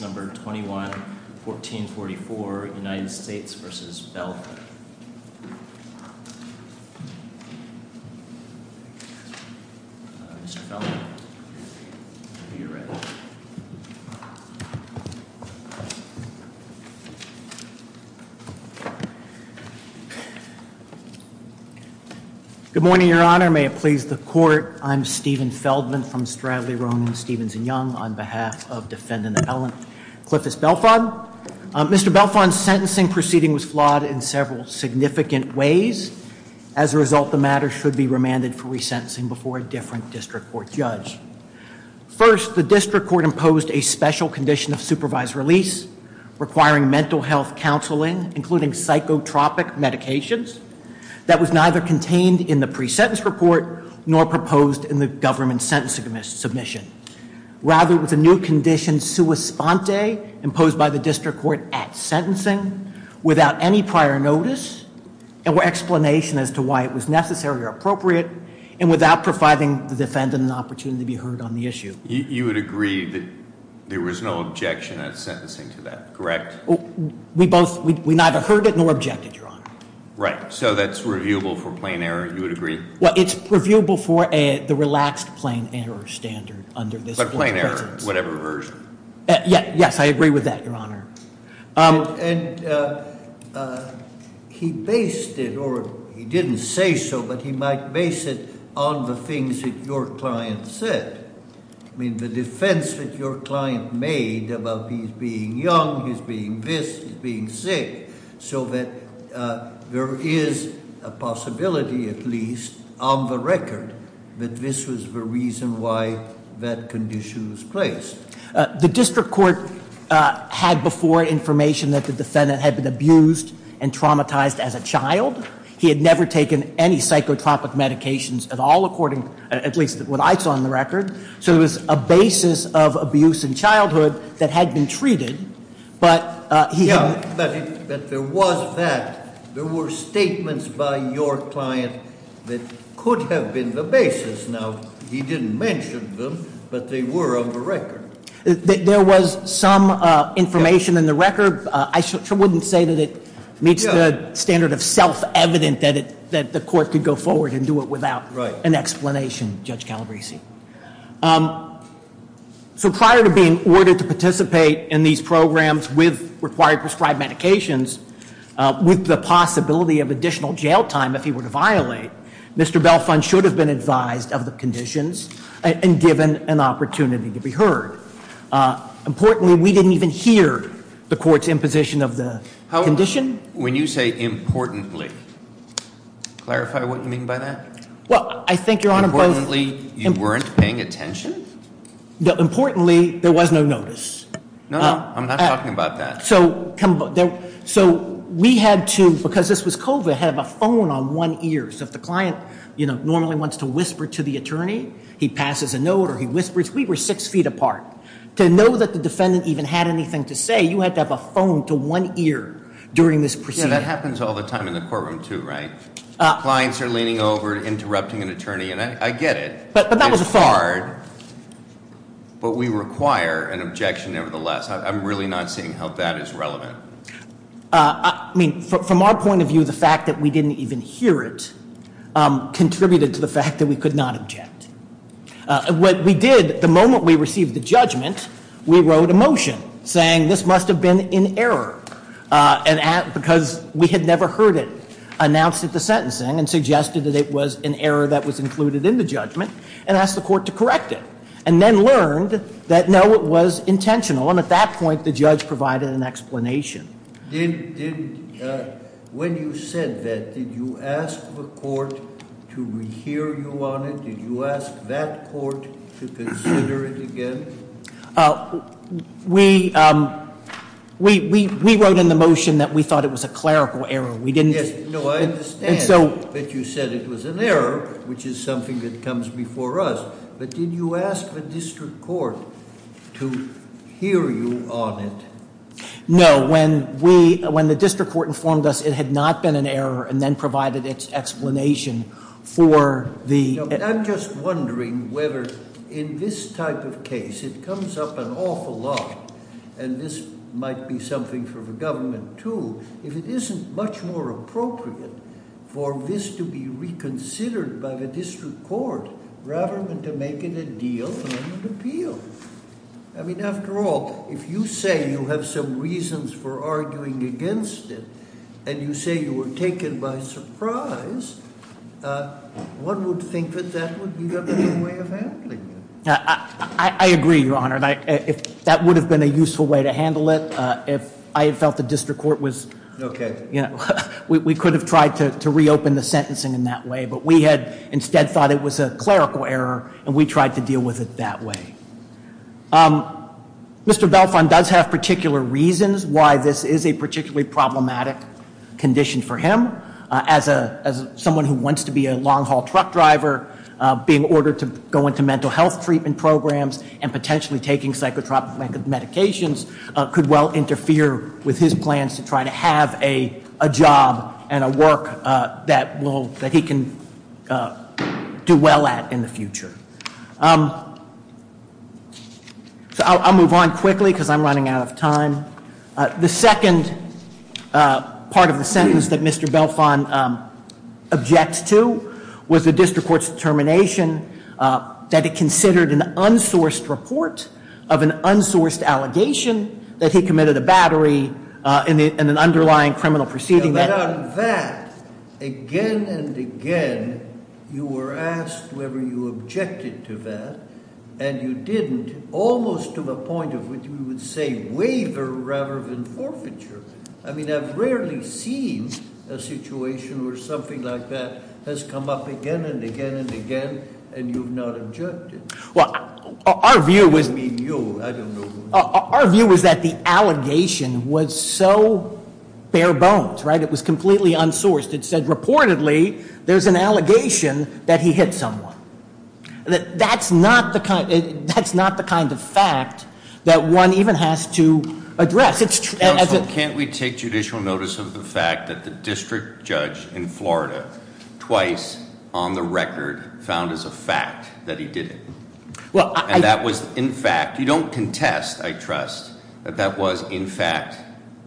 number 21-1444 United States v. Feldman Good morning, Your Honor. May it please the Court. I'm Stephen Feldman from Stradley, Roman, Stevens & Young on behalf of Defendant Ellen Cliffus Belfont. Mr. Belfont's sentencing proceeding was flawed in several significant ways. As a result, the matter should be remanded for resentencing before a different district court judge. First, the district court imposed a special condition of supervised release, requiring mental health counseling, including psychotropic medications. That was neither contained in the pre-sentence report nor proposed in the government sentencing submission. Rather, it was a new condition, sua sponte, imposed by the district court at sentencing without any prior notice or explanation as to why it was necessary or appropriate and without providing the defendant an opportunity to be heard on the issue. You would agree that there was no objection at sentencing to that, correct? We both, we neither heard it nor objected, Your Honor. Right, so that's reviewable for plain error, you would agree? Well, it's reviewable for the relaxed plain error standard under this pre-sentence. But plain error, whatever version? Yes, I agree with that, Your Honor. And he based it, or he didn't say so, but he might base it on the things that your client said. I mean, the defense that your client made about he's being young, he's being this, he's being sick, so that there is a possibility at least on the record that this was the reason why that condition was placed. The district court had before information that the defendant had been abused and traumatized as a child. He had never taken any psychotropic medications at all, according, at least what I saw on the record. So it was a basis of abuse in childhood that had been treated, but he had- Yeah, but there was that. There were statements by your client that could have been the basis. Now, he didn't mention them, but they were on the record. There was some information in the record. I wouldn't say that it meets the standard of self-evident that the court could go forward and do it without an explanation, Judge Calabresi. So prior to being ordered to participate in these programs with required prescribed medications, with the possibility of additional jail time if he were to violate, Mr. Belfont should have been advised of the conditions and given an opportunity to be heard. Importantly, we didn't even hear the court's imposition of the condition. When you say importantly, clarify what you mean by that. Well, I think, Your Honor, both- Importantly, you weren't paying attention? Importantly, there was no notice. No, no, I'm not talking about that. So we had to, because this was COVID, have a phone on one ear. So if the client normally wants to whisper to the attorney, he passes a note or he whispers. We were six feet apart. To know that the defendant even had anything to say, you had to have a phone to one ear during this proceeding. Yeah, that happens all the time in the courtroom too, right? Clients are leaning over, interrupting an attorney, and I get it. But that was a thought. It's hard, but we require an objection nevertheless. I'm really not seeing how that is relevant. I mean, from our point of view, the fact that we didn't even hear it contributed to the fact that we could not object. What we did the moment we received the judgment, we wrote a motion saying this must have been in error because we had never heard it announced at the sentencing and suggested that it was an error that was included in the judgment and asked the court to correct it and then learned that no, it was intentional. And at that point, the judge provided an explanation. When you said that, did you ask the court to rehear you on it? Did you ask that court to consider it again? We wrote in the motion that we thought it was a clerical error. We didn't just- No, I understand that you said it was an error, which is something that comes before us. But did you ask the district court to hear you on it? No. When the district court informed us it had not been an error and then provided its explanation for the- I'm just wondering whether in this type of case, it comes up an awful lot, and this might be something for the government too, if it isn't much more appropriate for this to be reconsidered by the district court rather than to make it a deal and appeal. I mean, after all, if you say you have some reasons for arguing against it and you say you were taken by surprise, one would think that that would be another way of handling it. I agree, Your Honor. That would have been a useful way to handle it if I had felt the district court was- Okay. We could have tried to reopen the sentencing in that way, but we had instead thought it was a clerical error and we tried to deal with it that way. Mr. Belfont does have particular reasons why this is a particularly problematic condition for him. As someone who wants to be a long-haul truck driver, being ordered to go into mental health treatment programs and potentially taking psychotropic medications could well interfere with his plans to try to have a job and a work that he can do well at in the future. I'll move on quickly because I'm running out of time. The second part of the sentence that Mr. Belfont objects to was the district court's determination that it considered an unsourced report of an unsourced allegation that he committed a battery in an underlying criminal proceeding. But on that, again and again, you were asked whether you objected to that, and you didn't almost to the point of what you would say waiver rather than forfeiture. I mean, I've rarely seen a situation where something like that has come up again and again and again and you've not objected. Well, our view was- I don't mean you. I don't know who- Our view was that the allegation was so bare bones, right? It was completely unsourced. It said reportedly there's an allegation that he hit someone. That's not the kind of fact that one even has to address. Counsel, can't we take judicial notice of the fact that the district judge in Florida twice on the record found as a fact that he did it? And that was in fact, you don't contest, I trust, that that was in fact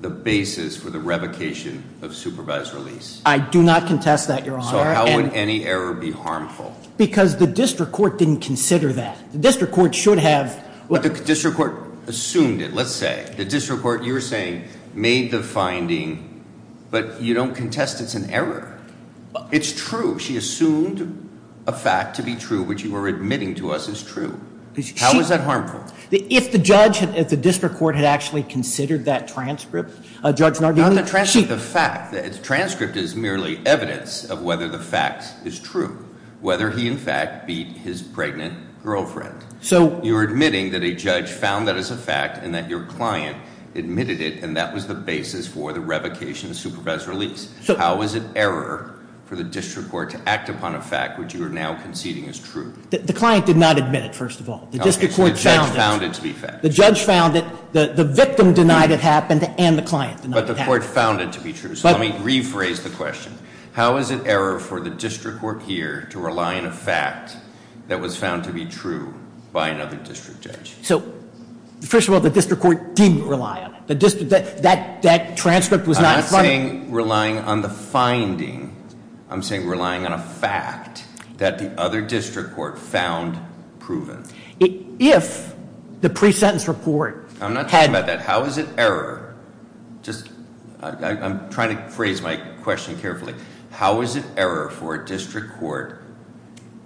the basis for the revocation of supervised release. I do not contest that, Your Honor. So how would any error be harmful? Because the district court didn't consider that. The district court should have- But the district court assumed it, let's say. The district court, you were saying, made the finding, but you don't contest it's an error. It's true. She assumed a fact to be true, which you were admitting to us is true. How is that harmful? If the judge at the district court had actually considered that transcript, Judge Nardone- Not the transcript, the fact. The transcript is merely evidence of whether the fact is true. Whether he in fact beat his pregnant girlfriend. So- You're admitting that a judge found that as a fact and that your client admitted it and that was the basis for the revocation of supervised release. So- How is it error for the district court to act upon a fact which you are now conceding is true? The client did not admit it, first of all. The district court found it. Okay, so the judge found it to be fact. The judge found it, the victim denied it happened, and the client denied it happened. But the court found it to be true, so let me rephrase the question. How is it error for the district court here to rely on a fact that was found to be true by another district judge? So, first of all, the district court didn't rely on it. The district, that transcript was not- I'm not saying relying on the finding. I'm saying relying on a fact that the other district court found proven. If the pre-sentence report had- I'm not talking about that. How is it error, just- I'm trying to phrase my question carefully. How is it error for a district court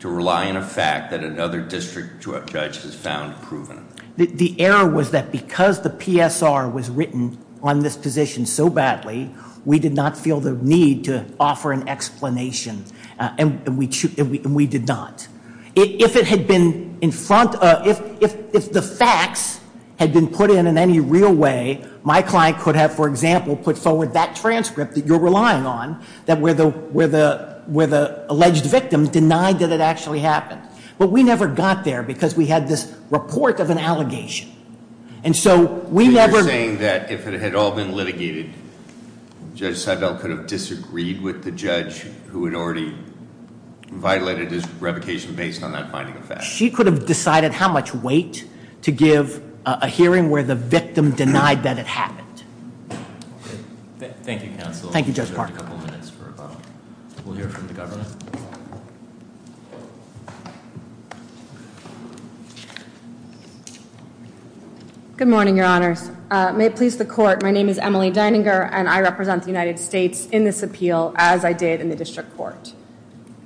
to rely on a fact that another district judge has found proven? The error was that because the PSR was written on this position so badly, we did not feel the need to offer an explanation, and we did not. If it had been in front of- If the facts had been put in in any real way, my client could have, for example, put forward that transcript that you're relying on, where the alleged victim denied that it actually happened. But we never got there because we had this report of an allegation. And so, we never- You're saying that if it had all been litigated, Judge Seibel could have disagreed with the judge who had already violated his revocation based on that finding of facts? She could have decided how much weight to give a hearing where the victim denied that it happened. Thank you, Judge Park. We'll hear from the government. Good morning, your honors. May it please the court, my name is Emily Dininger, and I represent the United States in this appeal, as I did in the district court.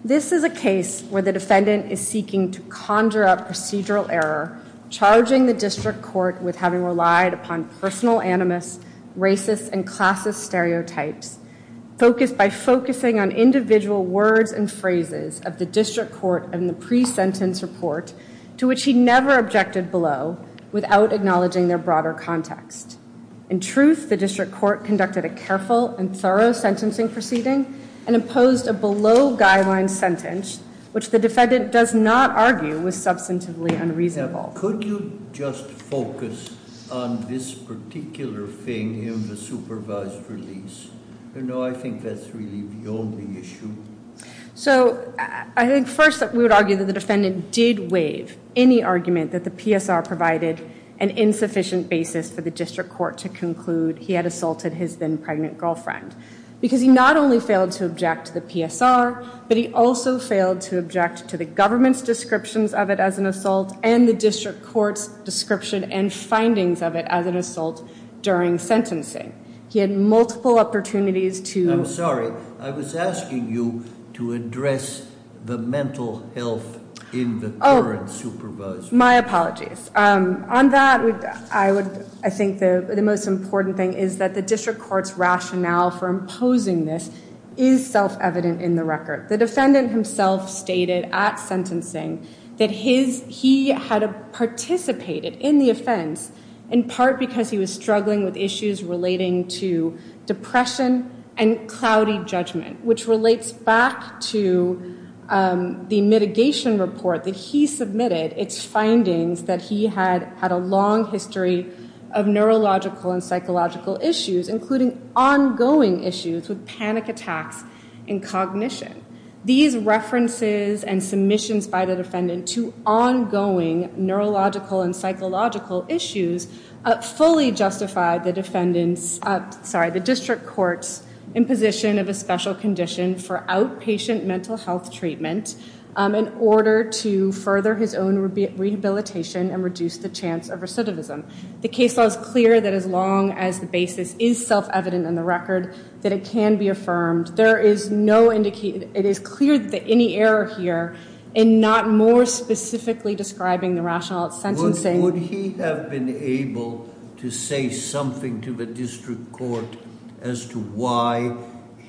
This is a case where the defendant is seeking to conjure up procedural error, charging the district court with having relied upon personal animus, racist, and classist stereotypes, focused by focusing on individual words and phrases of the district court in the pre-sentence report, to which he never objected below, without acknowledging their broader context. In truth, the district court conducted a careful and thorough sentencing proceeding and imposed a below-guideline sentence, which the defendant does not argue was substantively unreasonable. Now, could you just focus on this particular thing in the supervised release? You know, I think that's really the only issue. So, I think first, we would argue that the defendant did waive any argument that the PSR provided an insufficient basis for the district court to conclude he had assaulted his then-pregnant girlfriend. Because he not only failed to object to the PSR, but he also failed to object to the government's descriptions of it as an assault and the district court's description and findings of it as an assault during sentencing. He had multiple opportunities to- I'm sorry. I was asking you to address the mental health in the current supervisor. My apologies. On that, I think the most important thing is that the district court's rationale for imposing this is self-evident in the record. The defendant himself stated at sentencing that he had participated in the offense, in part because he was struggling with issues relating to depression and cloudy judgment, which relates back to the mitigation report that he submitted. It's findings that he had had a long history of neurological and psychological issues, including ongoing issues with panic attacks and cognition. These references and submissions by the defendant to ongoing neurological and psychological issues fully justified the district court's imposition of a special condition for outpatient mental health treatment in order to further his own rehabilitation and reduce the chance of recidivism. The case law is clear that as long as the basis is self-evident in the record, that it can be affirmed. It is clear that any error here in not more specifically describing the rationale at sentencing- to say something to the district court as to why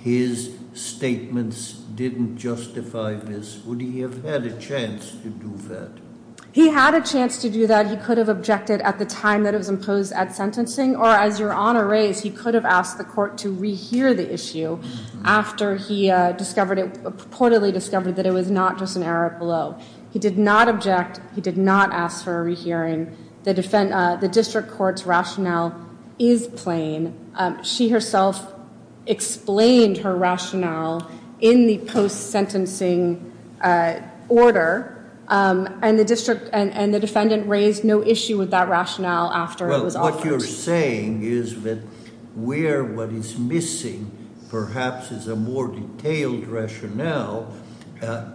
his statements didn't justify this. Would he have had a chance to do that? He had a chance to do that. He could have objected at the time that it was imposed at sentencing, or as Your Honor raised, he could have asked the court to rehear the issue after he reportedly discovered that it was not just an error below. He did not object. He did not ask for a rehearing. The district court's rationale is plain. She herself explained her rationale in the post-sentencing order, and the defendant raised no issue with that rationale after it was offered. What you're saying is that where what is missing perhaps is a more detailed rationale.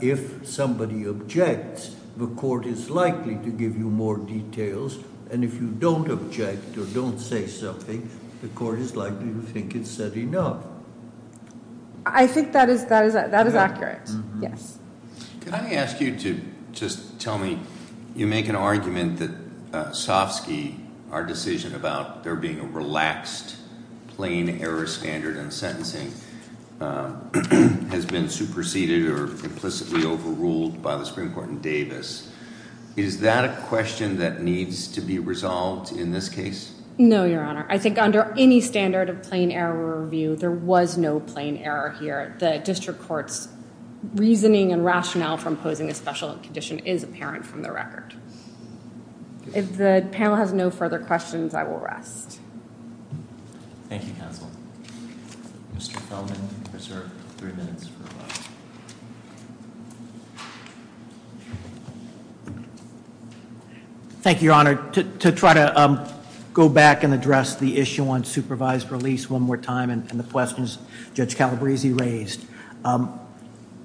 If somebody objects, the court is likely to give you more details, and if you don't object or don't say something, the court is likely to think it's said enough. I think that is accurate, yes. Could I ask you to just tell me, you make an argument that Sofsky, our decision about there being a relaxed plain error standard in sentencing, has been superseded or implicitly overruled by the Supreme Court in Davis. Is that a question that needs to be resolved in this case? No, Your Honor. I think under any standard of plain error review, there was no plain error here. The district court's reasoning and rationale from posing a special condition is apparent from the record. If the panel has no further questions, I will rest. Thank you, counsel. Mr. Feldman, you're served three minutes for a vote. Thank you, Your Honor. To try to go back and address the issue on supervised release one more time and the questions Judge Calabresi raised,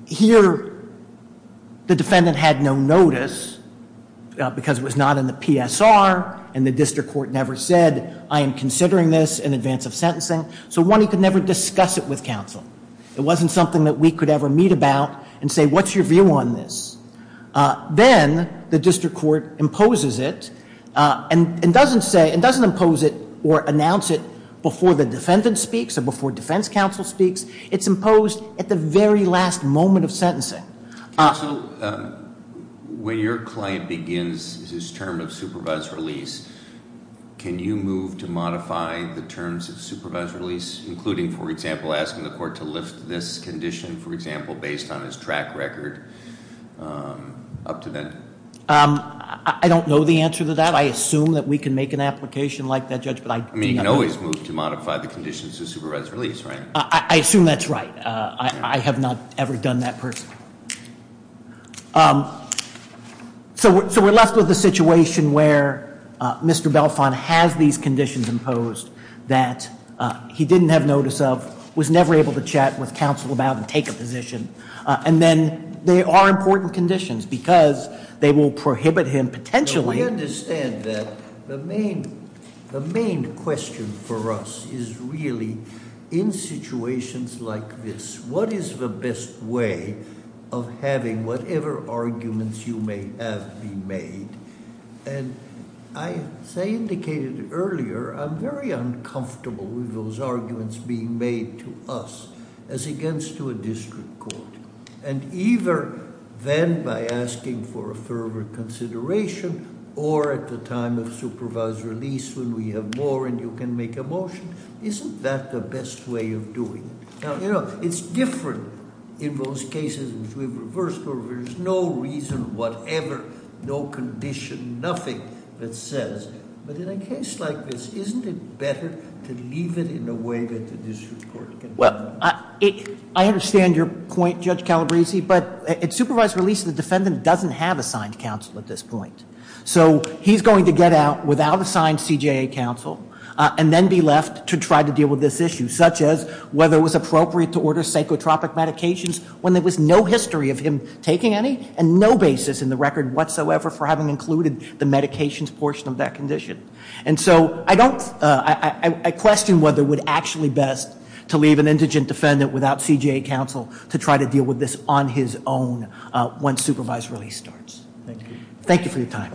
here the defendant had no notice because it was not in the PSR and the district court never said, I am considering this in advance of sentencing, so one, he could never discuss it with counsel. It wasn't something that we could ever meet about and say, what's your view on this? Then the district court imposes it and doesn't impose it or announce it before the defendant speaks or before defense counsel speaks. It's imposed at the very last moment of sentencing. Counsel, when your client begins his term of supervised release, can you move to modify the terms of supervised release, including, for example, asking the court to lift this condition, for example, based on his track record up to then? I don't know the answer to that. I assume that we can make an application like that, Judge. You can always move to modify the conditions of supervised release, right? I assume that's right. I have not ever done that personally. So we're left with a situation where Mr. Belfont has these conditions imposed that he didn't have notice of, was never able to chat with counsel about and take a position, and then there are important conditions because they will prohibit him potentially We understand that. The main question for us is really in situations like this, what is the best way of having whatever arguments you may have been made? And as I indicated earlier, I'm very uncomfortable with those arguments being made to us as against to a district court. And either then by asking for a further consideration or at the time of supervised release when we have more and you can make a motion, isn't that the best way of doing it? Now, you know, it's different in those cases which we've reversed, where there's no reason, whatever, no condition, nothing that says. But in a case like this, isn't it better to leave it in a way that the district court can do that? I understand your point, Judge Calabresi, but at supervised release, the defendant doesn't have assigned counsel at this point. So he's going to get out without assigned CJA counsel and then be left to try to deal with this issue, such as whether it was appropriate to order psychotropic medications when there was no history of him taking any and no basis in the record whatsoever for having included the medications portion of that condition. And so I question whether it would actually be best to leave an indigent defendant without CJA counsel to try to deal with this on his own when supervised release starts. Thank you. Thank you for your time.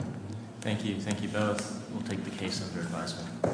Thank you. Thank you both. We'll take the case under advisement.